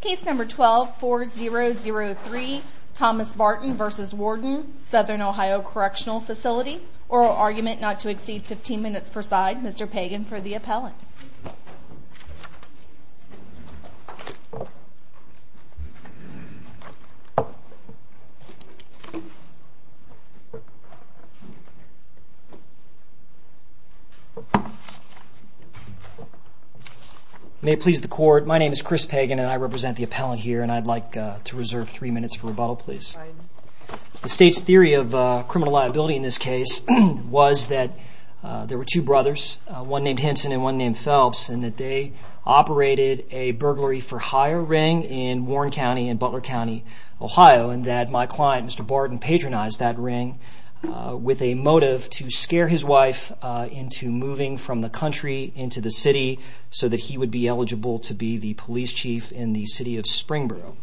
Case number 12-4003 Thomas Barton v. Warden Southern Ohio Correctional Facility Oral Argument not to exceed 15 minutes per side Mr. Pagan for the appellant May it please the court, my name is Chris Pagan and I represent the appellant here and I'd like to reserve three minutes for rebuttal please. The state's theory of criminal liability in this case was that there were two brothers, one named Henson and one named Phelps, and that they operated a burglary-for-hire ring in Warren County in Butler County, Ohio, and that my client, Mr. Barton, patronized that ring with a motive to scare his wife into moving from the country into the city so that he would be eligible to be the police chief in the city of Springboro.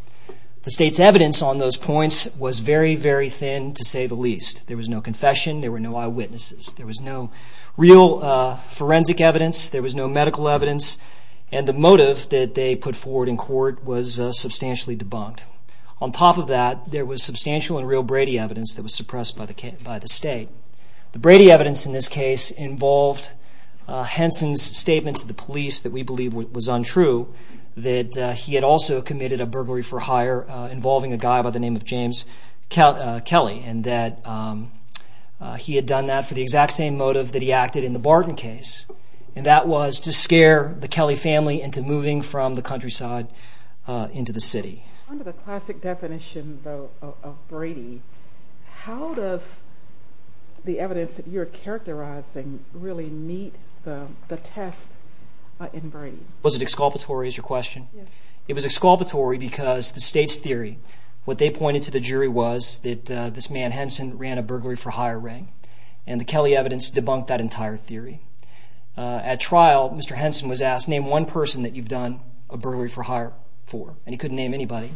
The state's evidence on those points was very, very thin to say the least. There was no confession, there were no eyewitnesses, there was no real forensic evidence, there was no medical evidence, and the motive that they put forward in court was substantially debunked. On top of that, there was substantial and real Brady evidence that was suppressed by the state. The Brady evidence in this case involved Henson's statement to the police that we believe was untrue that he had also committed a burglary-for-hire involving a guy by the name of James Kelly and that he had done that for the exact same motive that he acted in the Barton case, and that was to scare the Kelly family into moving from the countryside into the city. Under the classic definition, though, of Brady, how does the evidence that you're characterizing really meet the test in Brady? Was it exculpatory is your question? Yes. It was exculpatory because the state's theory, what they pointed to the jury was that this man, Henson, ran a burglary-for-hire ring, and the Kelly evidence debunked that entire theory. At trial, Mr. Henson was asked, name one person that you've done a burglary-for-hire for, and he couldn't name anybody,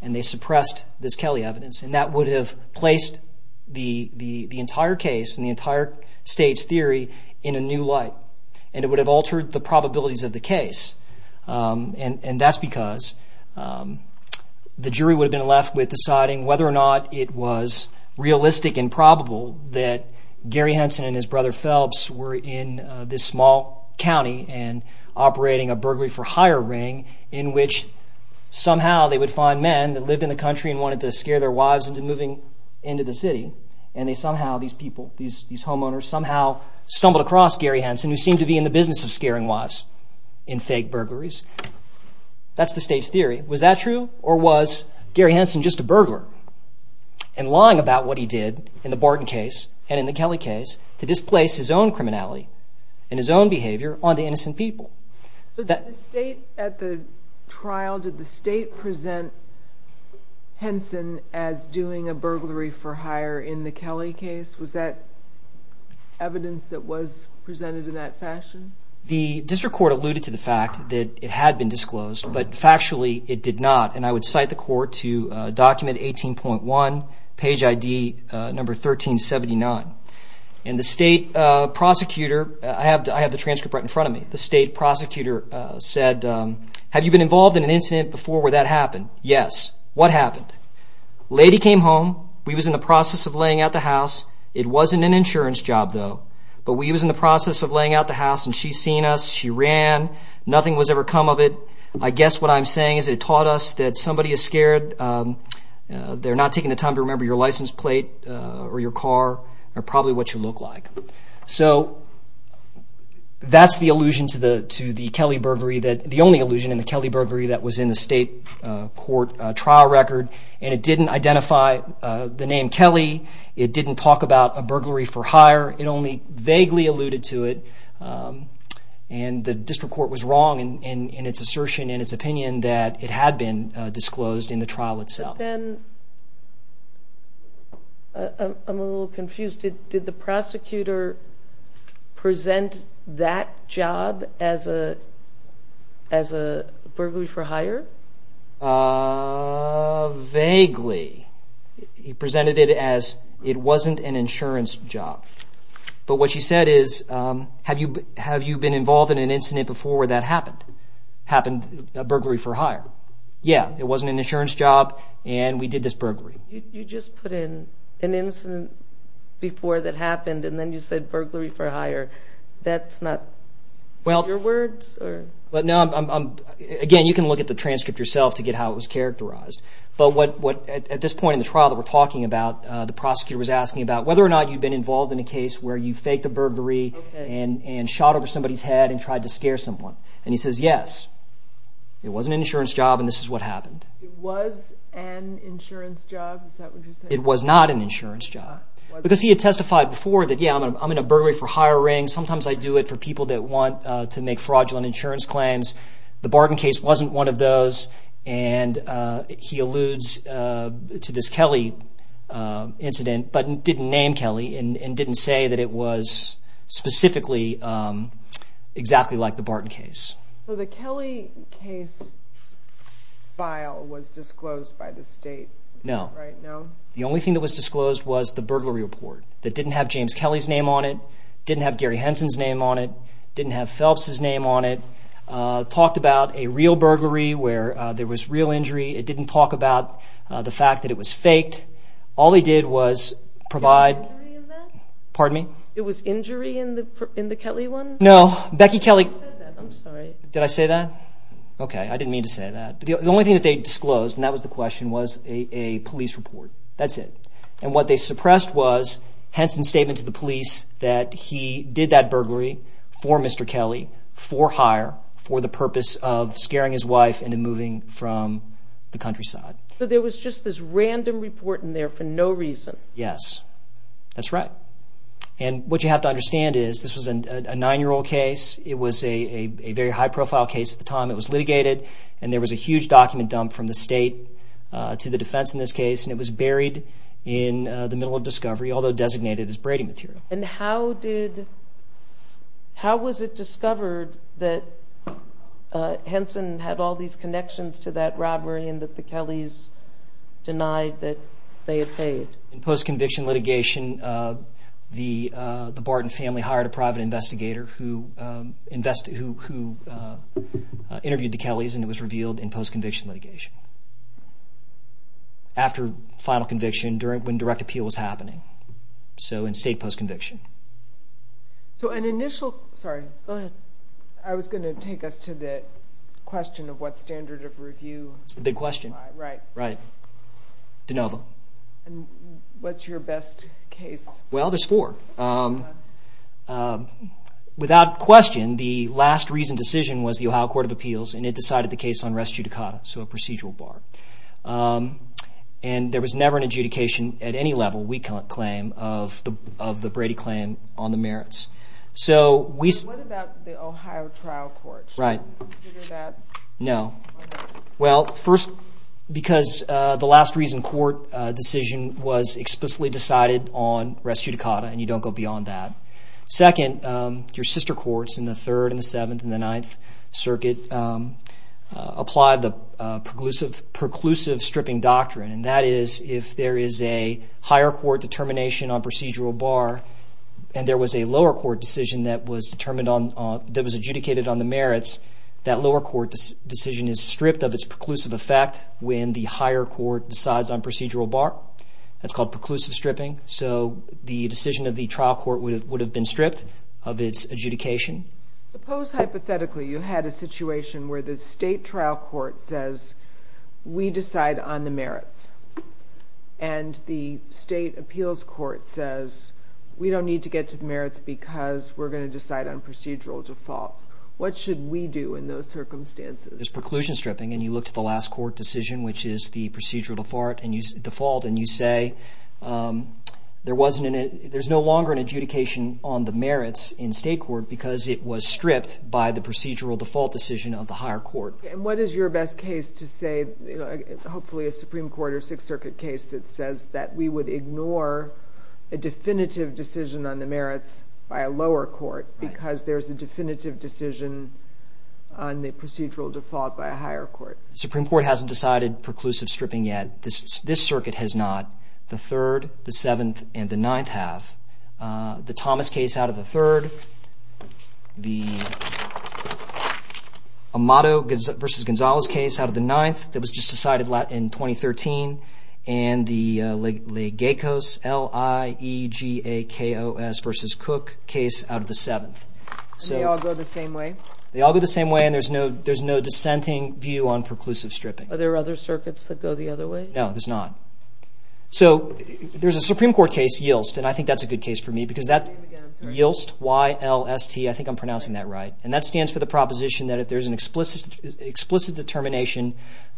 and they suppressed this Kelly evidence, and that would have placed the entire case and the entire state's theory in a new light, and it would have altered the probabilities of the case, and that's because the jury would have been left with deciding whether or not it was realistic and probable that Gary Henson and his brother Phelps were in this small county and operating a burglary-for-hire ring in which somehow they would find men that lived in the country and wanted to scare their wives into moving into the city, and they somehow, these people, these homeowners, somehow stumbled across Gary Henson, who seemed to be in the business of scaring wives in fake burglaries. That's the state's theory. Was that true, or was Gary Henson just a burglar, and lying about what he did in the Barton case and in the Kelly case to displace his own criminality and his own behavior on the innocent people? So did the state at the trial, did the state present Henson as doing a burglary-for-hire in the Kelly case? Was that evidence that was presented in that fashion? The district court alluded to the fact that it had been disclosed, but factually it did not, and I would cite the court to document 18.1, page ID number 1379. And the state prosecutor, I have the transcript right in front of me, the state prosecutor said, have you been involved in an incident before where that happened? Yes. What happened? Lady came home. We was in the process of laying out the house. It wasn't an insurance job, though, but we was in the process of laying out the house, and she seen us. She ran. Nothing was ever come of it. I guess what I'm saying is it taught us that somebody is scared. They're not taking the time to remember your license plate or your car, or probably what you look like. So that's the allusion to the Kelly burglary, the only allusion in the Kelly burglary that was in the state court trial record, and it didn't identify the name Kelly. It didn't talk about a burglary for hire. It only vaguely alluded to it, and the district court was wrong in its assertion and its opinion that it had been disclosed in the trial itself. I'm a little confused. Did the prosecutor present that job as a burglary for hire? Vaguely. He presented it as it wasn't an insurance job, but what she said is, have you been involved in an incident before where that happened? Happened, a burglary for hire. Yeah, it wasn't an insurance job, and we did this burglary. You just put in an incident before that happened, and then you said burglary for hire. That's not your words, or? Again, you can look at the transcript yourself to get how it was characterized, but at this point in the trial that we're talking about, the prosecutor was asking about whether or not you'd been involved in a case where you faked a burglary and shot over somebody's head and tried to scare someone, and he says, yes, it wasn't an insurance job, and this is what happened. It was an insurance job? Is that what you're saying? It was not an insurance job, because he had testified before that, yeah, I'm in a burglary for hire ring. Sometimes I do it for people that want to make fraudulent insurance claims. The Barton case wasn't one of those, and he alludes to this Kelly incident, but didn't name Kelly and didn't say that it was specifically exactly like the Barton case. So the Kelly case file was disclosed by the state? No. The only thing that was disclosed was the burglary report that didn't have James Kelly's name on it, didn't have Gary Henson's name on it, didn't have Phelps's name on it, talked about a real burglary where there was real injury. It didn't talk about the fact that it was faked. All he did was provide... Was there a burglary in that? Pardon me? It was injury in the Kelly one? No. Becky Kelly... You said that. I'm sorry. Did I say that? Okay. I didn't mean to say that. The only thing that they disclosed, and that was the question, was a police report. That's it. And what they suppressed was Henson's statement to the police that he did that burglary for Mr. Kelly, for hire, for the purpose of scaring his wife into moving from the countryside. So there was just this random report in there for no reason? Yes. That's right. And what you have to understand is this was a nine-year-old case. It was a very high-profile case at the time. It was litigated, and there was a huge document dump from the state to the defense in this case, and it was buried in the middle of discovery, although designated as braiding material. And how was it discovered that Henson had all these connections to that robbery and that the Kellys denied that they had paid? In post-conviction litigation, the Barton family hired a private investigator who interviewed the Kellys, and it was revealed in post-conviction litigation. After final conviction, when direct appeal was happening, so in state post-conviction. So an initial... Sorry. Go ahead. I was going to take us to the question of what standard of review... It's the big question. Right. Right. De Novo. And what's your best case? Well, there's four. Without question, the last reasoned decision was the Ohio Court of Appeals, and it decided the case on res judicata, so a procedural bar. And there was never an adjudication at any level, we claim, of the Brady claim on the merits. What about the Ohio Trial Court? Right. Consider that... No. Well, first, because the last reasoned court decision was explicitly decided on res judicata, and you don't go beyond that. Second, your sister courts in the Third and the Seventh and the Ninth Circuit applied the preclusive stripping doctrine, and that is, if there is a higher court determination on procedural bar, and there was a lower court decision that was adjudicated on the merits, that lower court decision is stripped of its preclusive effect when the higher court decides on procedural bar. That's called preclusive stripping. So the decision of the trial court would have been stripped of its adjudication. Suppose, hypothetically, you had a situation where the state trial court says, we decide on the merits, and the state appeals court says, we don't need to get to the merits because we're going to decide on procedural default. What should we do in those circumstances? There's preclusion stripping, and you look to the last court decision, which is the procedural default, and you say, there's no longer an adjudication on the merits in state court because it was stripped by the procedural default decision of the higher court. And what is your best case to say, hopefully a Supreme Court or Sixth Circuit case that says that we would ignore a definitive decision on the merits by a lower court because there's a definitive decision on the procedural default by a higher court? The Supreme Court hasn't decided preclusive stripping yet. This Circuit has not. The Third, the Seventh, and the Ninth have. The Thomas case out of the Third. The Amato v. Gonzalez case out of the Ninth that was just decided in 2013. And the Legakos v. Cook case out of the Seventh. And they all go the same way? They all go the same way, and there's no dissenting view on preclusive stripping. Are there other circuits that go the other way? No, there's not. So there's a Supreme Court case, YILST, and I think that's a good case for me because that, YILST, Y-L-S-T, I think I'm pronouncing that right, and that stands for the proposition that if there's an explicit determination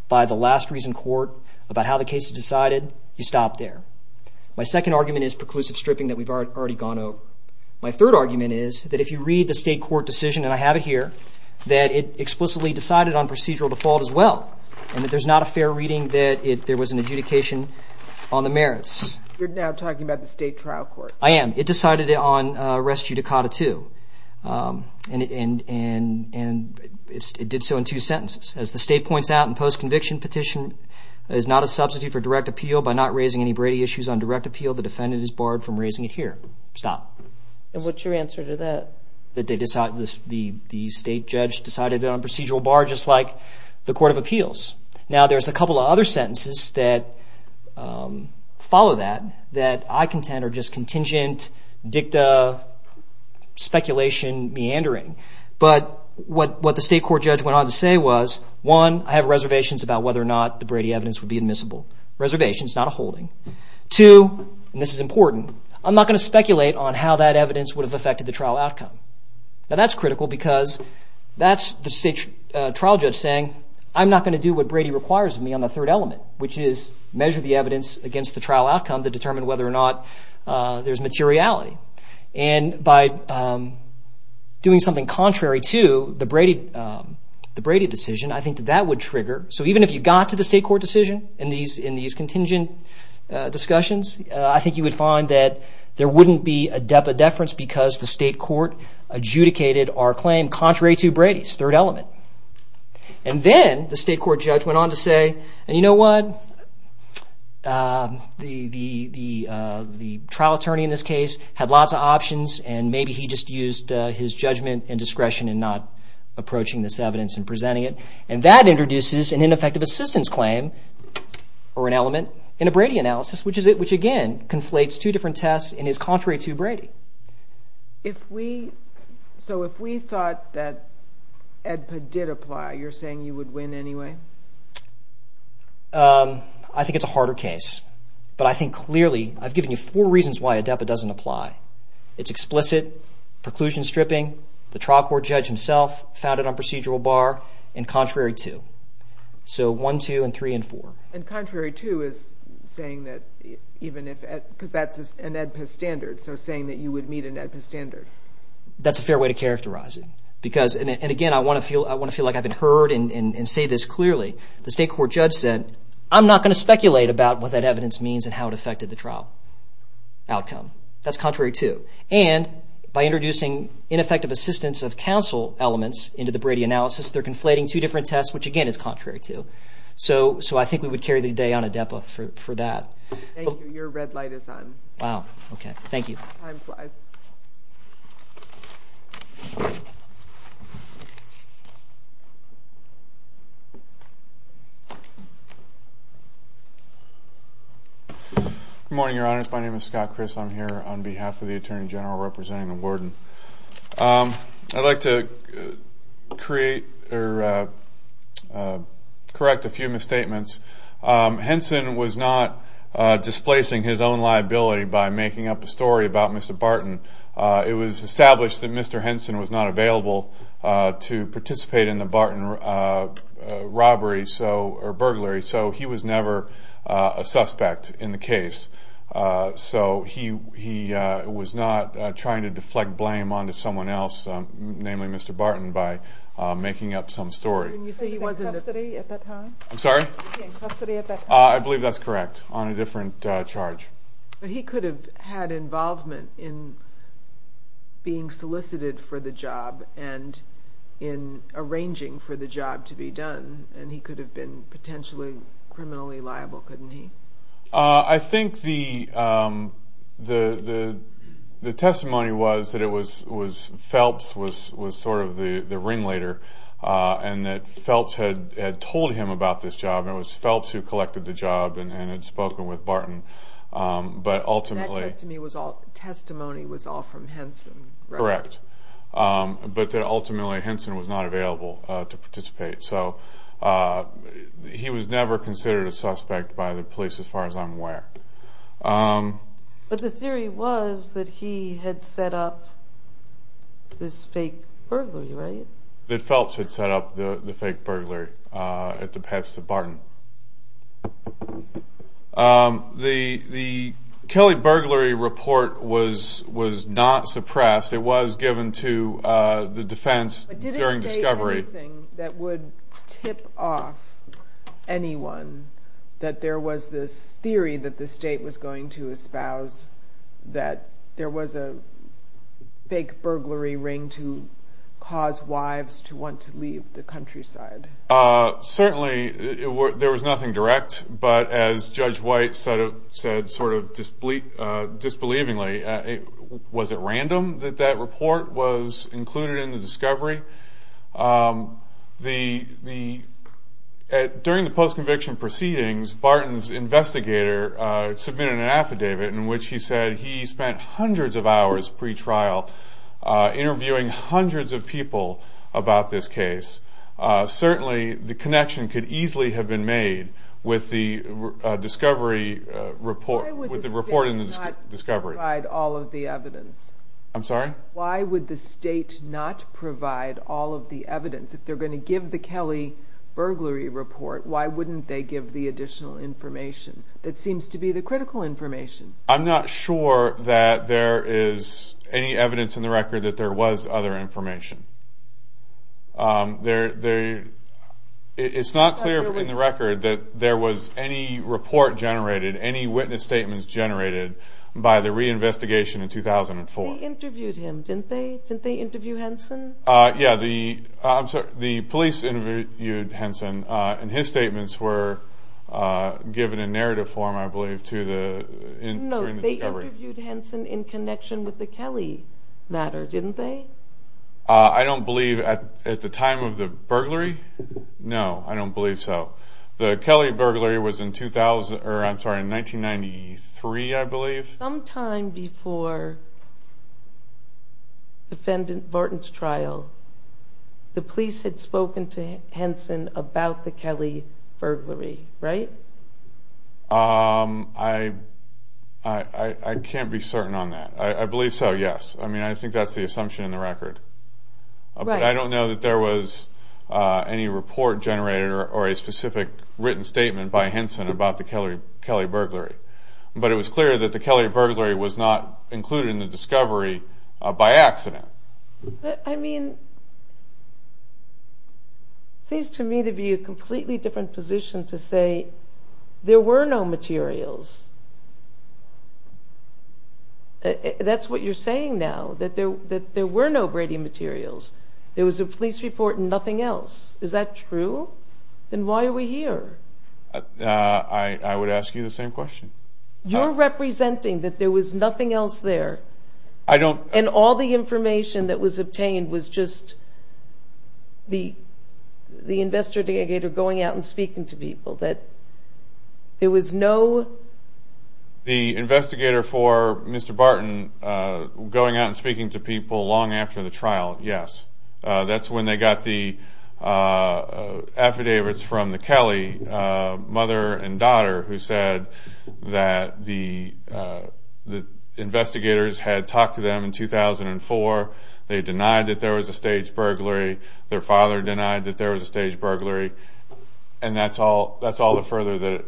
by the last reason court about how the case is decided, you stop there. My second argument is preclusive stripping that we've already gone over. My third argument is that if you read the state court decision, and I have it here, that it explicitly decided on procedural default as well, and that there's not a fair reading that there was an adjudication on the merits. You're now talking about the state trial court. I am. It decided it on res judicata too. And it did so in two sentences. As the state points out in post-conviction petition, it is not a substitute for direct appeal. By not raising any Brady issues on direct appeal, the defendant is barred from raising it here. Stop. And what's your answer to that? That the state judge decided it on a procedural bar just like the court of appeals. Now there's a couple of other sentences that follow that, that I contend are just contingent dicta speculation meandering. But what the state court judge went on to say was, one, I have reservations about whether or not the Brady evidence would be admissible. Reservations, not a holding. Two, and this is important, I'm not going to speculate on how that evidence would have a trial outcome. Now that's critical because that's the state trial judge saying, I'm not going to do what Brady requires of me on the third element, which is measure the evidence against the trial outcome to determine whether or not there's materiality. And by doing something contrary to the Brady decision, I think that that would trigger. So even if you got to the state court decision in these contingent discussions, I think you would find that there wouldn't be a deference because the state court adjudicated our claim contrary to Brady's third element. And then the state court judge went on to say, and you know what, the trial attorney in this case had lots of options and maybe he just used his judgment and discretion in not approaching this evidence and presenting it. And that introduces an ineffective assistance claim or an element in a Brady analysis, which again, conflates two different tests and is contrary to Brady. So if we thought that ADEPA did apply, you're saying you would win anyway? I think it's a harder case. But I think clearly, I've given you four reasons why ADEPA doesn't apply. It's explicit, preclusion stripping, the trial court judge himself found it on procedural bar and contrary to. So one, two, and three, and four. And contrary to is saying that even if, because that's an ADEPA standard, so saying that you would meet an ADEPA standard. That's a fair way to characterize it because, and again, I want to feel like I've been heard and say this clearly. The state court judge said, I'm not going to speculate about what that evidence means and how it affected the trial outcome. That's contrary to. And by introducing ineffective assistance of counsel elements into the Brady analysis, they're conflating two different tests, which again is contrary to. So I think we would carry the day on ADEPA for that. Thank you. Your red light is on. Wow. Okay. Thank you. Time flies. Good morning, your honors. My name is Scott Chris. I'm here on behalf of the attorney general representing the warden. I'd like to create, or correct a few misstatements. Henson was not displacing his own liability by making up a story about Mr. Barton. It was established that Mr. Henson was not available to participate in the Barton robbery, so, or burglary, so he was never a suspect in the case. So he was not trying to deflect blame onto someone else, namely Mr. Barton, by making up some story. And you say he was in custody at that time? I'm sorry? He was in custody at that time. I believe that's correct, on a different charge. But he could have had involvement in being solicited for the job and in arranging for the job to be done. And he could have been potentially criminally liable, couldn't he? I think the testimony was that it was Phelps, was sort of the ringleader, and that Phelps had told him about this job, and it was Phelps who collected the job and had spoken with Barton. But ultimately... That testimony was all from Henson, correct? Correct. But that ultimately Henson was not available to participate. So he was never considered a suspect by the police as far as I'm aware. But the theory was that he had set up this fake burglary, right? That Phelps had set up the fake burglary at the Pets to Barton. The Kelly burglary report was not suppressed. It was given to the defense during discovery. Was there anything that would tip off anyone that there was this theory that the state was going to espouse, that there was a fake burglary ring to cause wives to want to leave the countryside? Certainly there was nothing direct, but as Judge White said sort of disbelievingly, was it random that that report was included in the discovery? During the post-conviction proceedings, Barton's investigator submitted an affidavit in which he said he spent hundreds of hours pre-trial interviewing hundreds of people about this case. Certainly the connection could easily have been made with the discovery report. Why would the state not provide all of the evidence? I'm sorry? Why would the state not provide all of the evidence? If they're going to give the Kelly burglary report, why wouldn't they give the additional information that seems to be the critical information? I'm not sure that there is any evidence in the record that there was other information. It's not clear in the record that there was any report generated, any witness statements generated by the reinvestigation in 2004. They interviewed him, didn't they? Didn't they interview Henson? Yeah, the police interviewed Henson, and his statements were given in narrative form, I believe, during the discovery. No, they interviewed Henson in connection with the Kelly matter, didn't they? I don't believe at the time of the burglary. No, I don't believe so. The Kelly burglary was in 1993, I believe. Sometime before the Vorton's trial, the police had spoken to Henson about the Kelly burglary, right? I can't be certain on that. I believe so, yes. I mean, I think that's the assumption in the record. But I don't know that there was any report generated or a specific written statement by Henson about the Kelly burglary. But it was clear that the Kelly burglary was not included in the discovery by accident. I mean, it seems to me to be a completely different position to say there were no materials. That's what you're saying now, that there were no Brady materials. There was a police report and nothing else. Is that true? Then why are we here? I would ask you the same question. You're representing that there was nothing else there. I don't- And all the information that was obtained was just the investigator going out and speaking to people. That there was no- The investigator for Mr. Barton going out and speaking to people long after the trial, yes. That's when they got the affidavits from the Kelly mother and daughter who said that the investigators had talked to them in 2004. They denied that there was a staged burglary. Their father denied that there was a staged burglary. And that's all the further that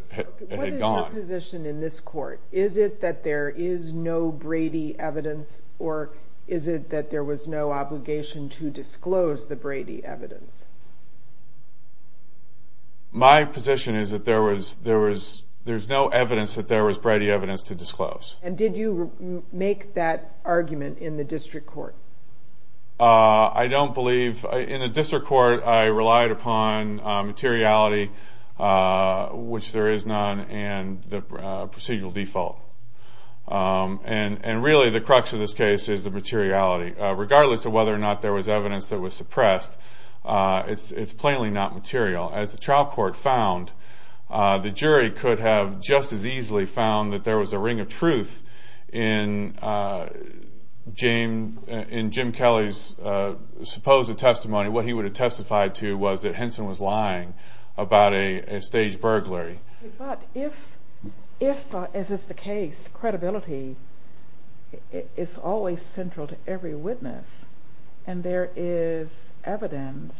it had gone. What is your position in this court? Is it that there is no Brady evidence? Or is it that there was no obligation to disclose the Brady evidence? My position is that there's no evidence that there was Brady evidence to disclose. And did you make that argument in the district court? I don't believe- And really the crux of this case is the materiality. Regardless of whether or not there was evidence that was suppressed, it's plainly not material. As the trial court found, the jury could have just as easily found that there was a ring of truth in Jim Kelly's supposed testimony. What he would have testified to was that Henson was lying about a staged burglary. But if, as is the case, credibility is always central to every witness and there is evidence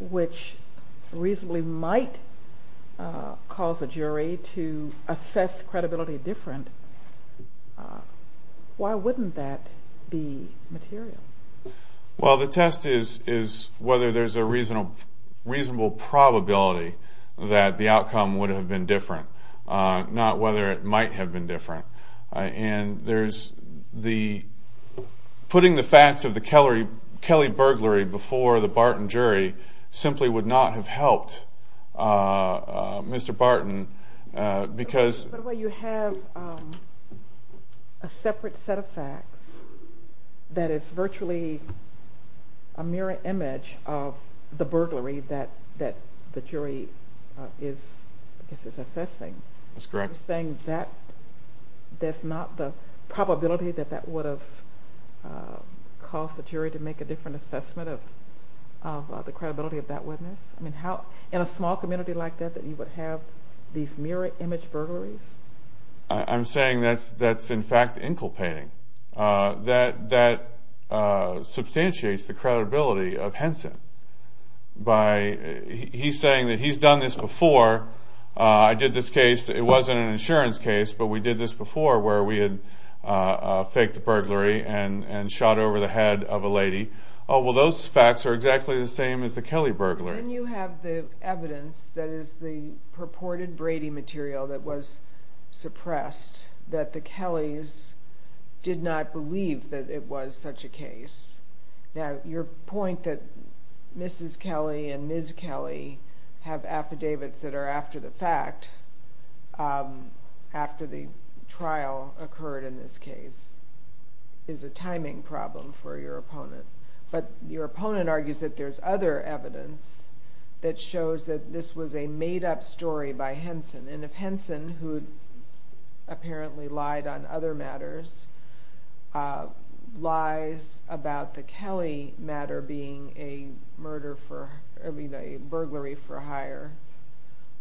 which reasonably might cause a jury to assess credibility different, why wouldn't that be material? Well, the test is whether there's a reasonable probability that the outcome would have been different, not whether it might have been different. And putting the facts of the Kelly burglary before the Barton jury simply would not have helped Mr. Barton because- There's actually a mirror image of the burglary that the jury is assessing. That's correct. Are you saying that that's not the probability that that would have caused the jury to make a different assessment of the credibility of that witness? In a small community like that, that you would have these mirror image burglaries? I'm saying that's in fact inculpating. That substantiates the credibility of Henson. He's saying that he's done this before. I did this case, it wasn't an insurance case, but we did this before where we had faked a burglary and shot over the head of a lady. Well, those facts are exactly the same as the Kelly burglary. Then you have the evidence that is the purported Brady material that was suppressed, that the Kellys did not believe that it was such a case. Now, your point that Mrs. Kelly and Ms. Kelly have affidavits that are after the fact, after the trial occurred in this case, is a timing problem for your opponent. But your opponent argues that there's other evidence that shows that this was a made-up story by Henson. If Henson, who apparently lied on other matters, lies about the Kelly matter being a burglary for hire,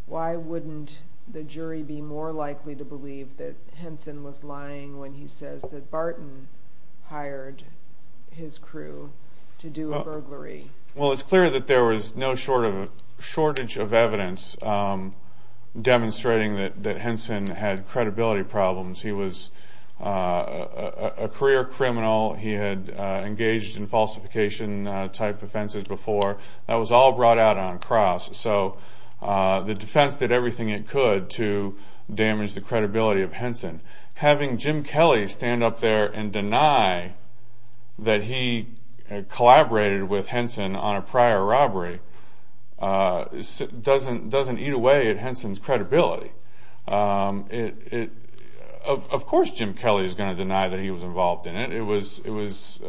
why wouldn't the jury be more likely to believe that Henson was lying when he says that Barton hired his crew to do a burglary? Well, it's clear that there was no shortage of evidence demonstrating that Henson had credibility problems. He was a career criminal. He had engaged in falsification-type offenses before. That was all brought out on cross. So the defense did everything it could to damage the credibility of Henson. And having Jim Kelly stand up there and deny that he collaborated with Henson on a prior robbery doesn't eat away at Henson's credibility. Of course Jim Kelly is going to deny that he was involved in it. It was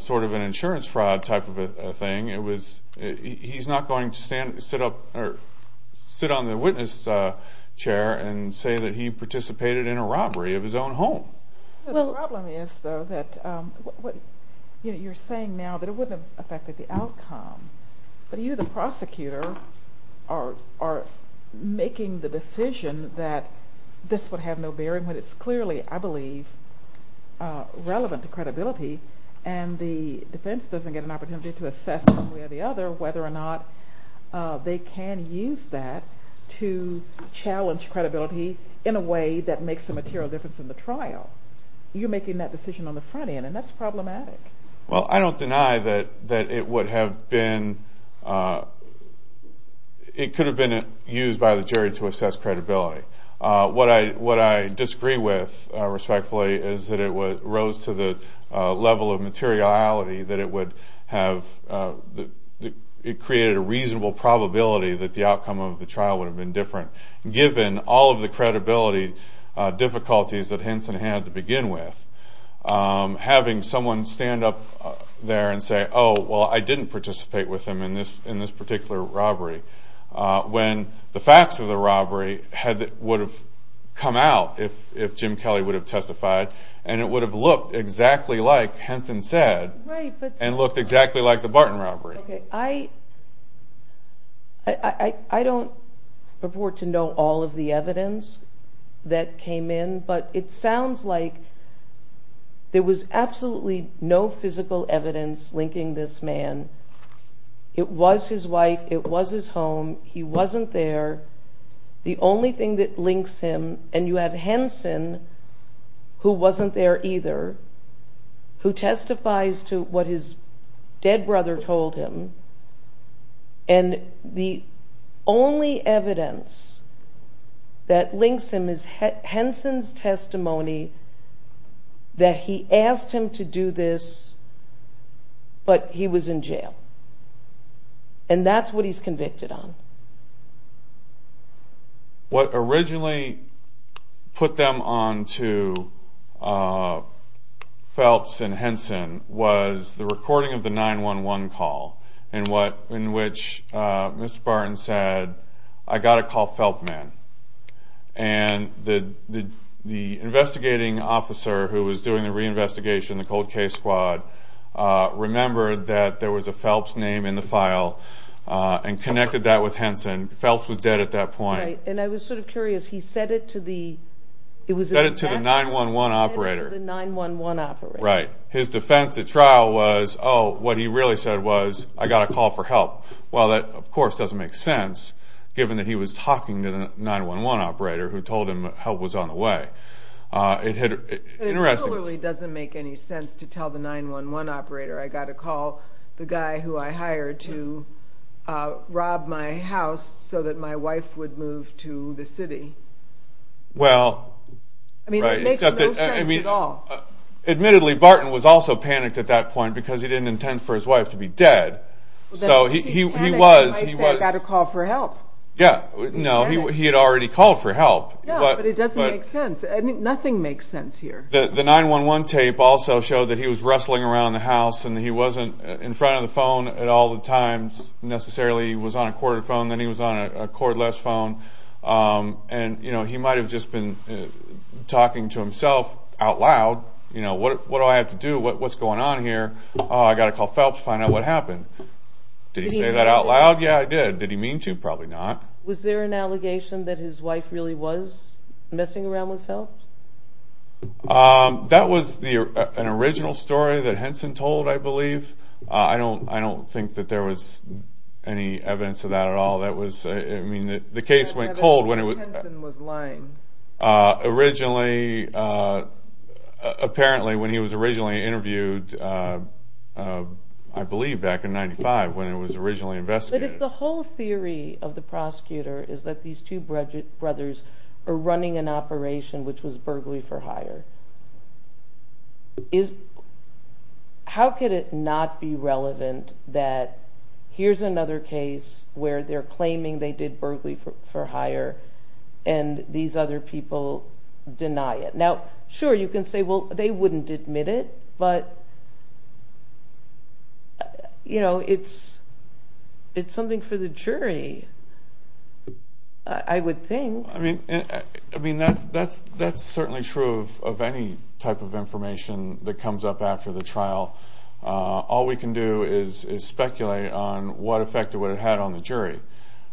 sort of an insurance fraud type of a thing. He's not going to sit on the witness chair and say that he participated in a robbery of his own home. The problem is, though, that you're saying now that it wouldn't have affected the outcome. But you, the prosecutor, are making the decision that this would have no bearing. But it's clearly, I believe, relevant to credibility. And the defense doesn't get an opportunity to assess one way or the other whether or not they can use that to challenge credibility in a way that makes a material difference in the trial. You're making that decision on the front end, and that's problematic. Well, I don't deny that it could have been used by the jury to assess credibility. What I disagree with, respectfully, is that it rose to the level of materiality that it would have. It created a reasonable probability that the outcome of the trial would have been different. Given all of the credibility difficulties that Henson had to begin with, having someone stand up there and say, oh, well, I didn't participate with him in this particular robbery. When the facts of the robbery would have come out if Jim Kelly would have testified, and it would have looked exactly like Henson said, and looked exactly like the Barton robbery. I don't purport to know all of the evidence that came in, but it sounds like there was absolutely no physical evidence linking this man. It was his wife. It was his home. He wasn't there. The only thing that links him, and you have Henson, who wasn't there either, who testifies to what his dead brother told him, and the only evidence that links him is Henson's testimony that he asked him to do this, but he was in jail. And that's what he's convicted on. What originally put them on to Phelps and Henson was the recording of the 911 call, in which Mr. Barton said, I got to call Phelps man. And the investigating officer who was doing the reinvestigation, the cold case squad, remembered that there was a Phelps name in the file, and connected that with Henson. Phelps was dead at that point. And I was sort of curious, he said it to the... He said it to the 911 operator. He said it to the 911 operator. His defense at trial was, oh, what he really said was, I got to call for help. Well, that of course doesn't make sense, given that he was talking to the 911 operator who told him help was on the way. It totally doesn't make any sense to tell the 911 operator, I got to call the guy who I hired to rob my house so that my wife would move to the city. I mean, it makes no sense at all. Admittedly, Barton was also panicked at that point because he didn't intend for his wife to be dead. He panicked because he said, I got to call for help. Yeah, no, he had already called for help. Yeah, but it doesn't make sense. Nothing makes sense here. The 911 tape also showed that he was wrestling around the house, and he wasn't in front of the phone at all the times necessarily. He was on a corded phone, then he was on a cordless phone. And he might have just been talking to himself out loud, what do I have to do, what's going on here, I got to call Phelps to find out what happened. Did he say that out loud? Yeah, he did. Did he mean to? Probably not. Was there an allegation that his wife really was messing around with Phelps? That was an original story that Henson told, I believe. The case went cold when it was... Henson was lying. Originally, apparently when he was originally interviewed, I believe back in 1995, when it was originally investigated. But if the whole theory of the prosecutor is that these two brothers are running an operation which was burglary for hire, how could it not be relevant that here's another case where they're claiming they did burglary for hire and these other people deny it? Now, sure, you can say, well, they wouldn't admit it, but it's something for the jury, I would think. I mean, that's certainly true of any type of information that comes up after the trial. All we can do is speculate on what effect it would have had on the jury.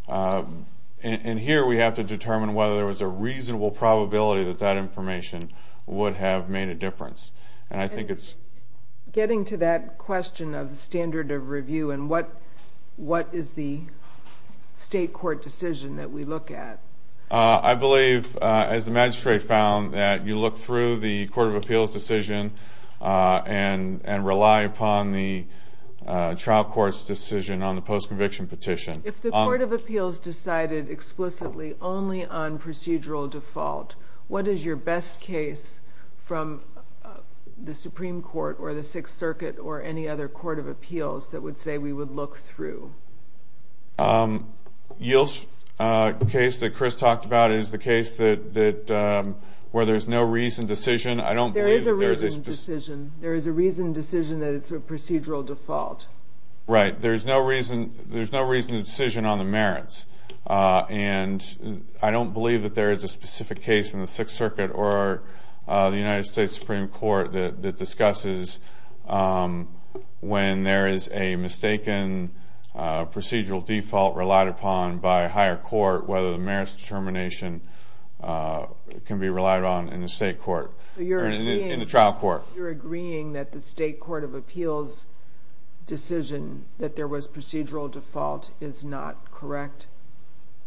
And here we have to determine whether there was a reasonable probability that that information would have made a difference. And I think it's... Getting to that question of the standard of review and what is the state court decision that we look at. I believe, as the magistrate found, that you look through the court of appeals decision and rely upon the trial court's decision on the post-conviction petition. If the court of appeals decided explicitly only on procedural default, what is your best case from the Supreme Court or the Sixth Circuit or any other court of appeals that would say we would look through? Yield's case that Chris talked about is the case where there's no reason decision. There is a reason decision. There is a reason decision that it's a procedural default. Right. There's no reason decision on the merits. And I don't believe that there is a specific case in the Sixth Circuit or the United States Supreme Court that discusses when there is a mistaken procedural default relied upon by a higher court whether the merits determination can be relied on in the state court, in the trial court. You're agreeing that the state court of appeals decision that there was procedural default is not correct?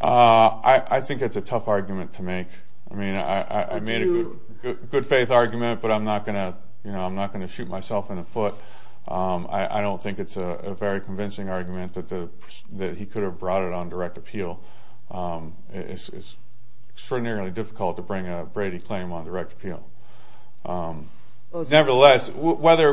I think it's a tough argument to make. I mean, I made a good faith argument, but I'm not going to shoot myself in the foot. I don't think it's a very convincing argument that he could have brought it on direct appeal. It's extraordinarily difficult to bring a Brady claim on direct appeal. Nevertheless, whether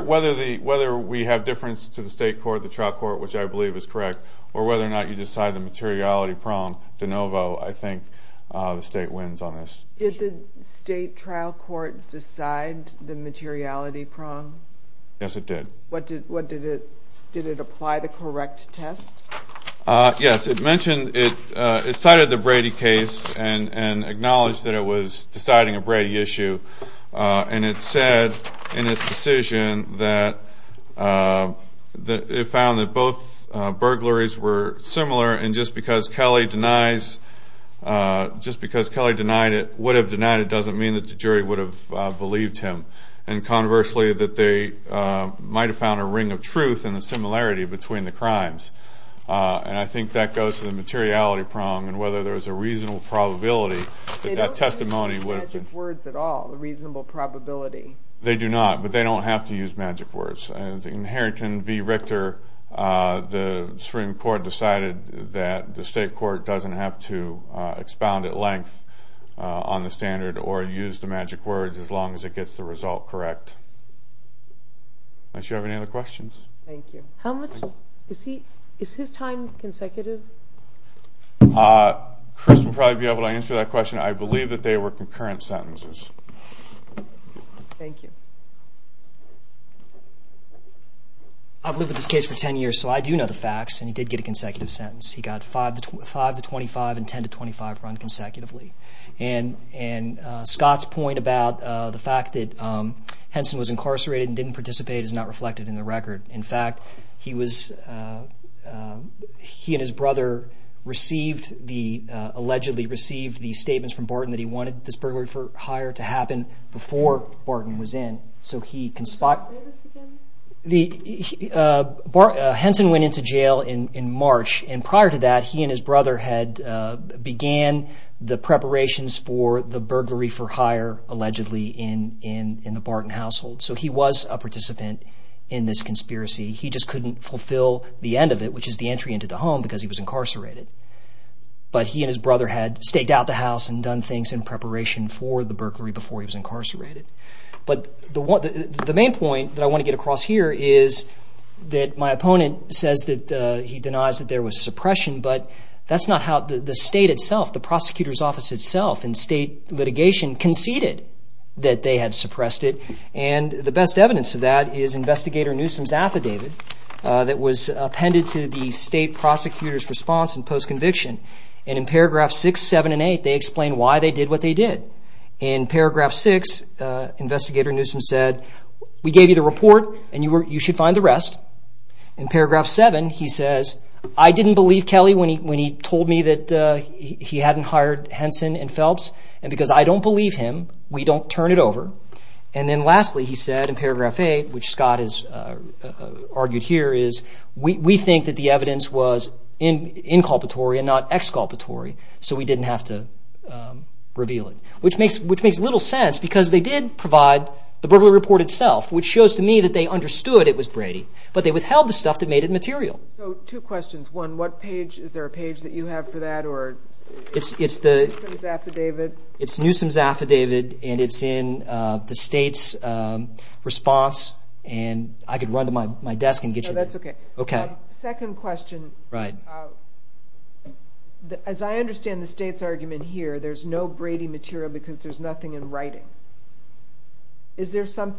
we have difference to the state court, the trial court, which I believe is correct, or whether or not you decide the materiality prong, de novo, I think the state wins on this. Did the state trial court decide the materiality prong? Yes, it did. Did it apply the correct test? Yes, it cited the Brady case and acknowledged that it was deciding a Brady issue, and it said in its decision that it found that both burglaries were similar, and just because Kelly denied it would have denied it doesn't mean that the jury would have believed him, and conversely that they might have found a ring of truth in the similarity between the crimes. And I think that goes to the materiality prong, and whether there was a reasonable probability that that testimony would have. They don't use magic words at all, a reasonable probability. They do not, but they don't have to use magic words. In Harrington v. Richter, the Supreme Court decided that the state court doesn't have to expound at length on the standard or use the magic words as long as it gets the result correct. Unless you have any other questions. Thank you. Is his time consecutive? Chris will probably be able to answer that question. I believe that they were concurrent sentences. Thank you. I've lived with this case for 10 years, so I do know the facts, and he did get a consecutive sentence. He got 5 to 25 and 10 to 25 run consecutively. And Scott's point about the fact that Henson was incarcerated and didn't participate is not reflected in the record. In fact, he and his brother allegedly received the statements from Barton that he wanted this burglary for hire to happen before Barton was in. Can you say this again? Henson went into jail in March, and prior to that, he and his brother had began the preparations for the burglary for hire, allegedly, in the Barton household. So he was a participant in this conspiracy. He just couldn't fulfill the end of it, which is the entry into the home, because he was incarcerated. But he and his brother had staked out the house and done things in preparation for the burglary before he was incarcerated. But the main point that I want to get across here is that my opponent says that he denies that there was suppression, but that's not how the state itself, the prosecutor's office itself, and state litigation conceded that they had suppressed it. And the best evidence of that is Investigator Newsom's affidavit that was appended to the state prosecutor's response in post-conviction. And in paragraphs 6, 7, and 8, they explain why they did what they did. In paragraph 6, Investigator Newsom said, we gave you the report, and you should find the rest. In paragraph 7, he says, I didn't believe Kelly when he told me that he hadn't hired Henson and Phelps, and because I don't believe him, we don't turn it over. And then lastly, he said in paragraph 8, which Scott has argued here, is we think that the evidence was inculpatory and not exculpatory, so we didn't have to reveal it. Which makes little sense, because they did provide the burglary report itself, which shows to me that they understood it was Brady. But they withheld the stuff that made it material. So two questions. One, is there a page that you have for that, or is it Newsom's affidavit? It's Newsom's affidavit, and it's in the state's response, and I could run to my desk and get you that. No, that's okay. Okay. The second question, as I understand the state's argument here, there's no Brady material because there's nothing in writing. Was there some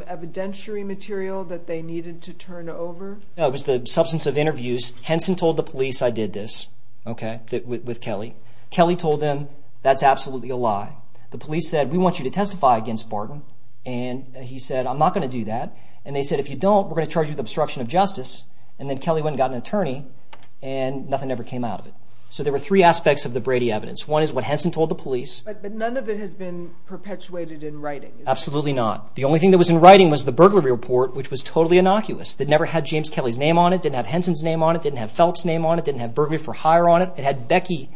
evidentiary material that they needed to turn over? No, it was the substance of interviews. Henson told the police I did this with Kelly. Kelly told them that's absolutely a lie. The police said, we want you to testify against Barton, and he said, I'm not going to do that. And they said, if you don't, we're going to charge you with obstruction of justice. And then Kelly went and got an attorney, and nothing ever came out of it. So there were three aspects of the Brady evidence. One is what Henson told the police. But none of it has been perpetuated in writing. Absolutely not. The only thing that was in writing was the burglary report, which was totally innocuous. It never had James Kelly's name on it. It didn't have Henson's name on it. It didn't have Phelps' name on it. It didn't have burglary for hire on it. It had Becky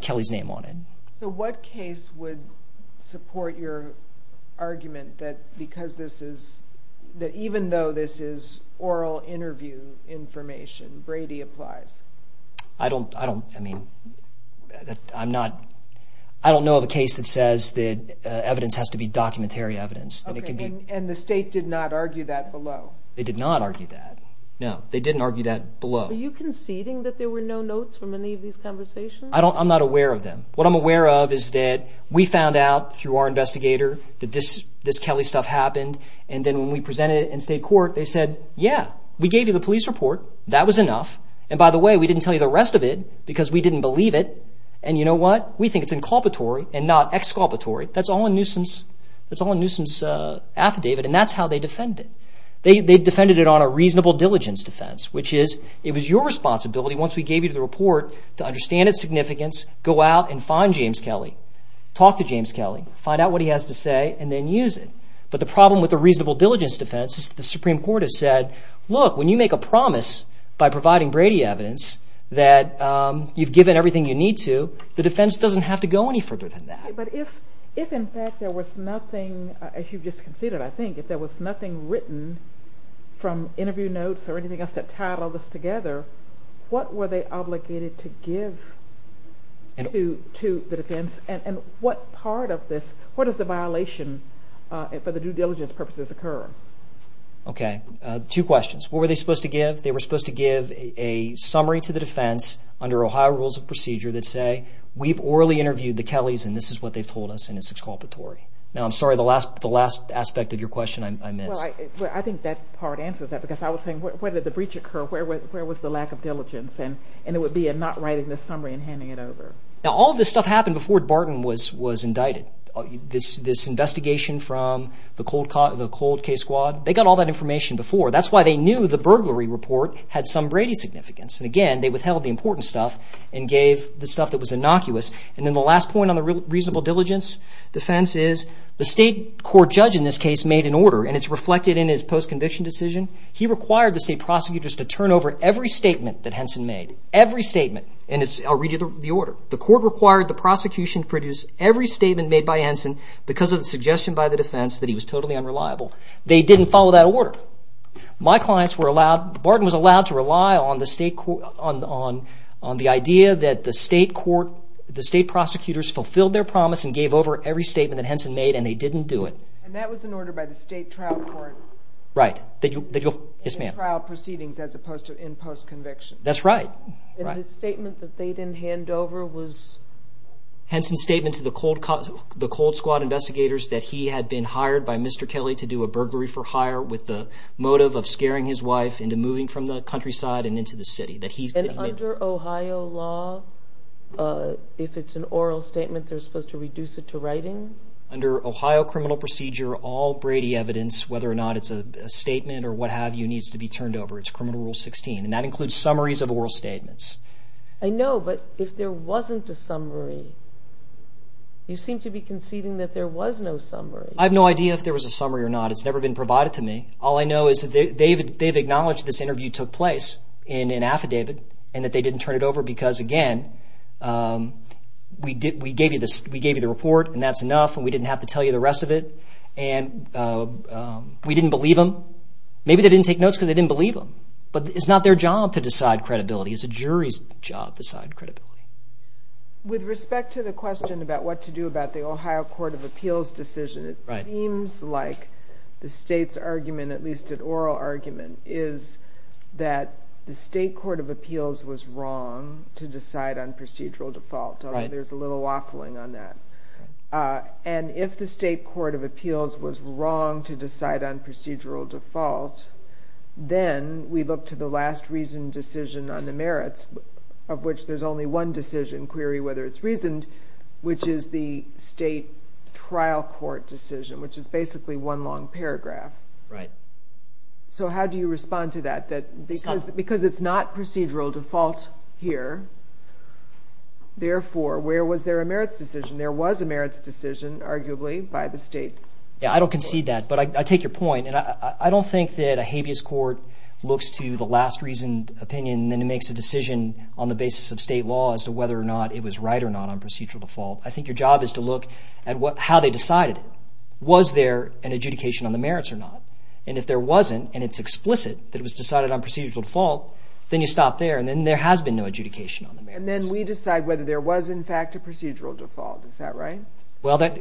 Kelly's name on it. So what case would support your argument that even though this is oral interview information, Brady applies? I don't know of a case that says that evidence has to be documentary evidence. And the state did not argue that below? They did not argue that. No, they didn't argue that below. Are you conceding that there were no notes from any of these conversations? I'm not aware of them. What I'm aware of is that we found out through our investigator that this Kelly stuff happened. And then when we presented it in state court, they said, yeah, we gave you the police report. That was enough. And by the way, we didn't tell you the rest of it because we didn't believe it. And you know what? We think it's inculpatory and not exculpatory. That's all a nuisance affidavit. And that's how they defend it. They defended it on a reasonable diligence defense, which is it was your responsibility once we gave you the report to understand its significance, go out and find James Kelly, talk to James Kelly, find out what he has to say, and then use it. But the problem with a reasonable diligence defense is the Supreme Court has said, look, when you make a promise by providing Brady evidence that you've given everything you need to, the defense doesn't have to go any further than that. But if in fact there was nothing, as you just conceded, I think, if there was nothing written from interview notes or anything else that tied all this together, what were they obligated to give to the defense? And what part of this, what is the violation for the due diligence purposes occur? Okay. Two questions. What were they supposed to give? They were supposed to give a summary to the defense under Ohio rules of procedure that say, we've orally interviewed the Kellys and this is what they've told us and it's exculpatory. Now, I'm sorry, the last aspect of your question I missed. Well, I think that part answers that because I was saying where did the breach occur? Where was the lack of diligence? And it would be in not writing the summary and handing it over. Now, all this stuff happened before Barton was indicted. This investigation from the Cold Case Squad, they got all that information before. That's why they knew the burglary report had some Brady significance. And, again, they withheld the important stuff and gave the stuff that was innocuous. And then the last point on the reasonable diligence defense is the state court judge in this case made an order, and it's reflected in his post-conviction decision. He required the state prosecutors to turn over every statement that Henson made, every statement. And I'll read you the order. The court required the prosecution to produce every statement made by Henson because of the suggestion by the defense that he was totally unreliable. They didn't follow that order. My clients were allowed, Barton was allowed to rely on the idea that the state court, the state prosecutors fulfilled their promise and gave over every statement that Henson made, and they didn't do it. And that was an order by the state trial court. Right. Yes, ma'am. In trial proceedings as opposed to in post-conviction. That's right. And his statement that they didn't hand over was? Henson's statement to the Cold Squad investigators that he had been hired by Mr. Kelly to do a burglary for hire with the motive of scaring his wife into moving from the countryside and into the city. And under Ohio law, if it's an oral statement, they're supposed to reduce it to writing? Under Ohio criminal procedure, all Brady evidence, whether or not it's a statement or what have you, needs to be turned over. It's Criminal Rule 16, and that includes summaries of oral statements. I know, but if there wasn't a summary, you seem to be conceding that there was no summary. I have no idea if there was a summary or not. It's never been provided to me. All I know is that they've acknowledged this interview took place in an affidavit and that they didn't turn it over because, again, we gave you the report and that's enough and we didn't have to tell you the rest of it, and we didn't believe them. Maybe they didn't take notes because they didn't believe them, but it's not their job to decide credibility. It's a jury's job to decide credibility. With respect to the question about what to do about the Ohio Court of Appeals decision, it seems like the state's argument, at least an oral argument, is that the state court of appeals was wrong to decide on procedural default, although there's a little waffling on that. If the state court of appeals was wrong to decide on procedural default, then we look to the last reasoned decision on the merits, of which there's only one decision query whether it's reasoned, which is the state trial court decision, which is basically one long paragraph. So how do you respond to that? Because it's not procedural default here, therefore, where was there a merits decision? There was a merits decision, arguably, by the state court. I don't concede that, but I take your point. I don't think that a habeas court looks to the last reasoned opinion and then makes a decision on the basis of state law as to whether or not it was right or not on procedural default. I think your job is to look at how they decided it. Was there an adjudication on the merits or not? And if there wasn't, and it's explicit that it was decided on procedural default, then you stop there, and then there has been no adjudication on the merits. And then we decide whether there was, in fact, a procedural default. Is that right? Well, that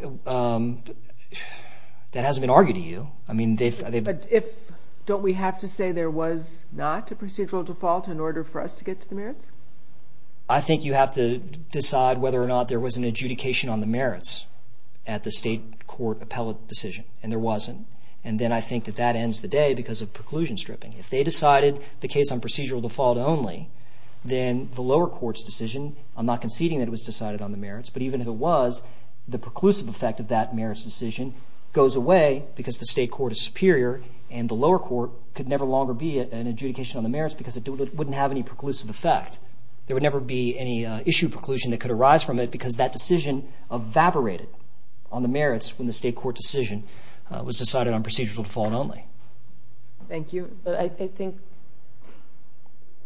hasn't been argued to you. But don't we have to say there was not a procedural default in order for us to get to the merits? I think you have to decide whether or not there was an adjudication on the merits at the state court appellate decision, and there wasn't. And then I think that that ends the day because of preclusion stripping. If they decided the case on procedural default only, then the lower court's decision, I'm not conceding that it was decided on the merits, but even if it was, the preclusive effect of that merits decision goes away because the state court is superior, and the lower court could never longer be an adjudication on the merits because it wouldn't have any preclusive effect. There would never be any issue preclusion that could arise from it because that decision evaporated on the merits when the state court decision was decided on procedural default only. Thank you. But I think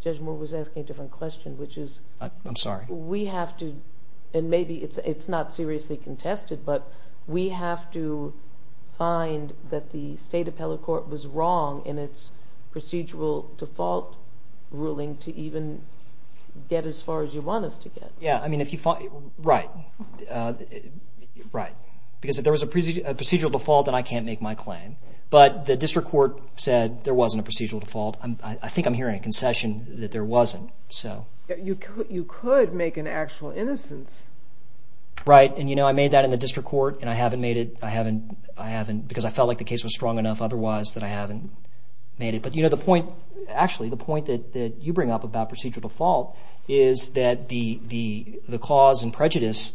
Judge Moore was asking a different question, which is we have to, and maybe it's not seriously contested, but we have to find that the state appellate court was wrong in its procedural default ruling to even get as far as you want us to get. Yeah, I mean if you find, right, right. Because if there was a procedural default, then I can't make my claim. But the district court said there wasn't a procedural default. I think I'm hearing a concession that there wasn't. You could make an actual innocence. Right, and I made that in the district court, and I haven't made it because I felt like the case was strong enough otherwise that I haven't made it. But the point, actually the point that you bring up about procedural default is that the cause and prejudice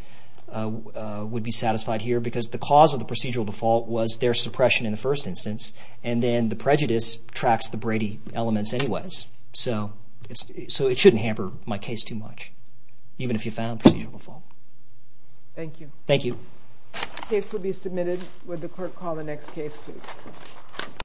would be satisfied here because the cause of the procedural default was their suppression in the first instance, and then the prejudice tracks the Brady elements anyways. So it shouldn't hamper my case too much, even if you found procedural default. Thank you. Thank you. The case will be submitted. Would the court call the next case, please?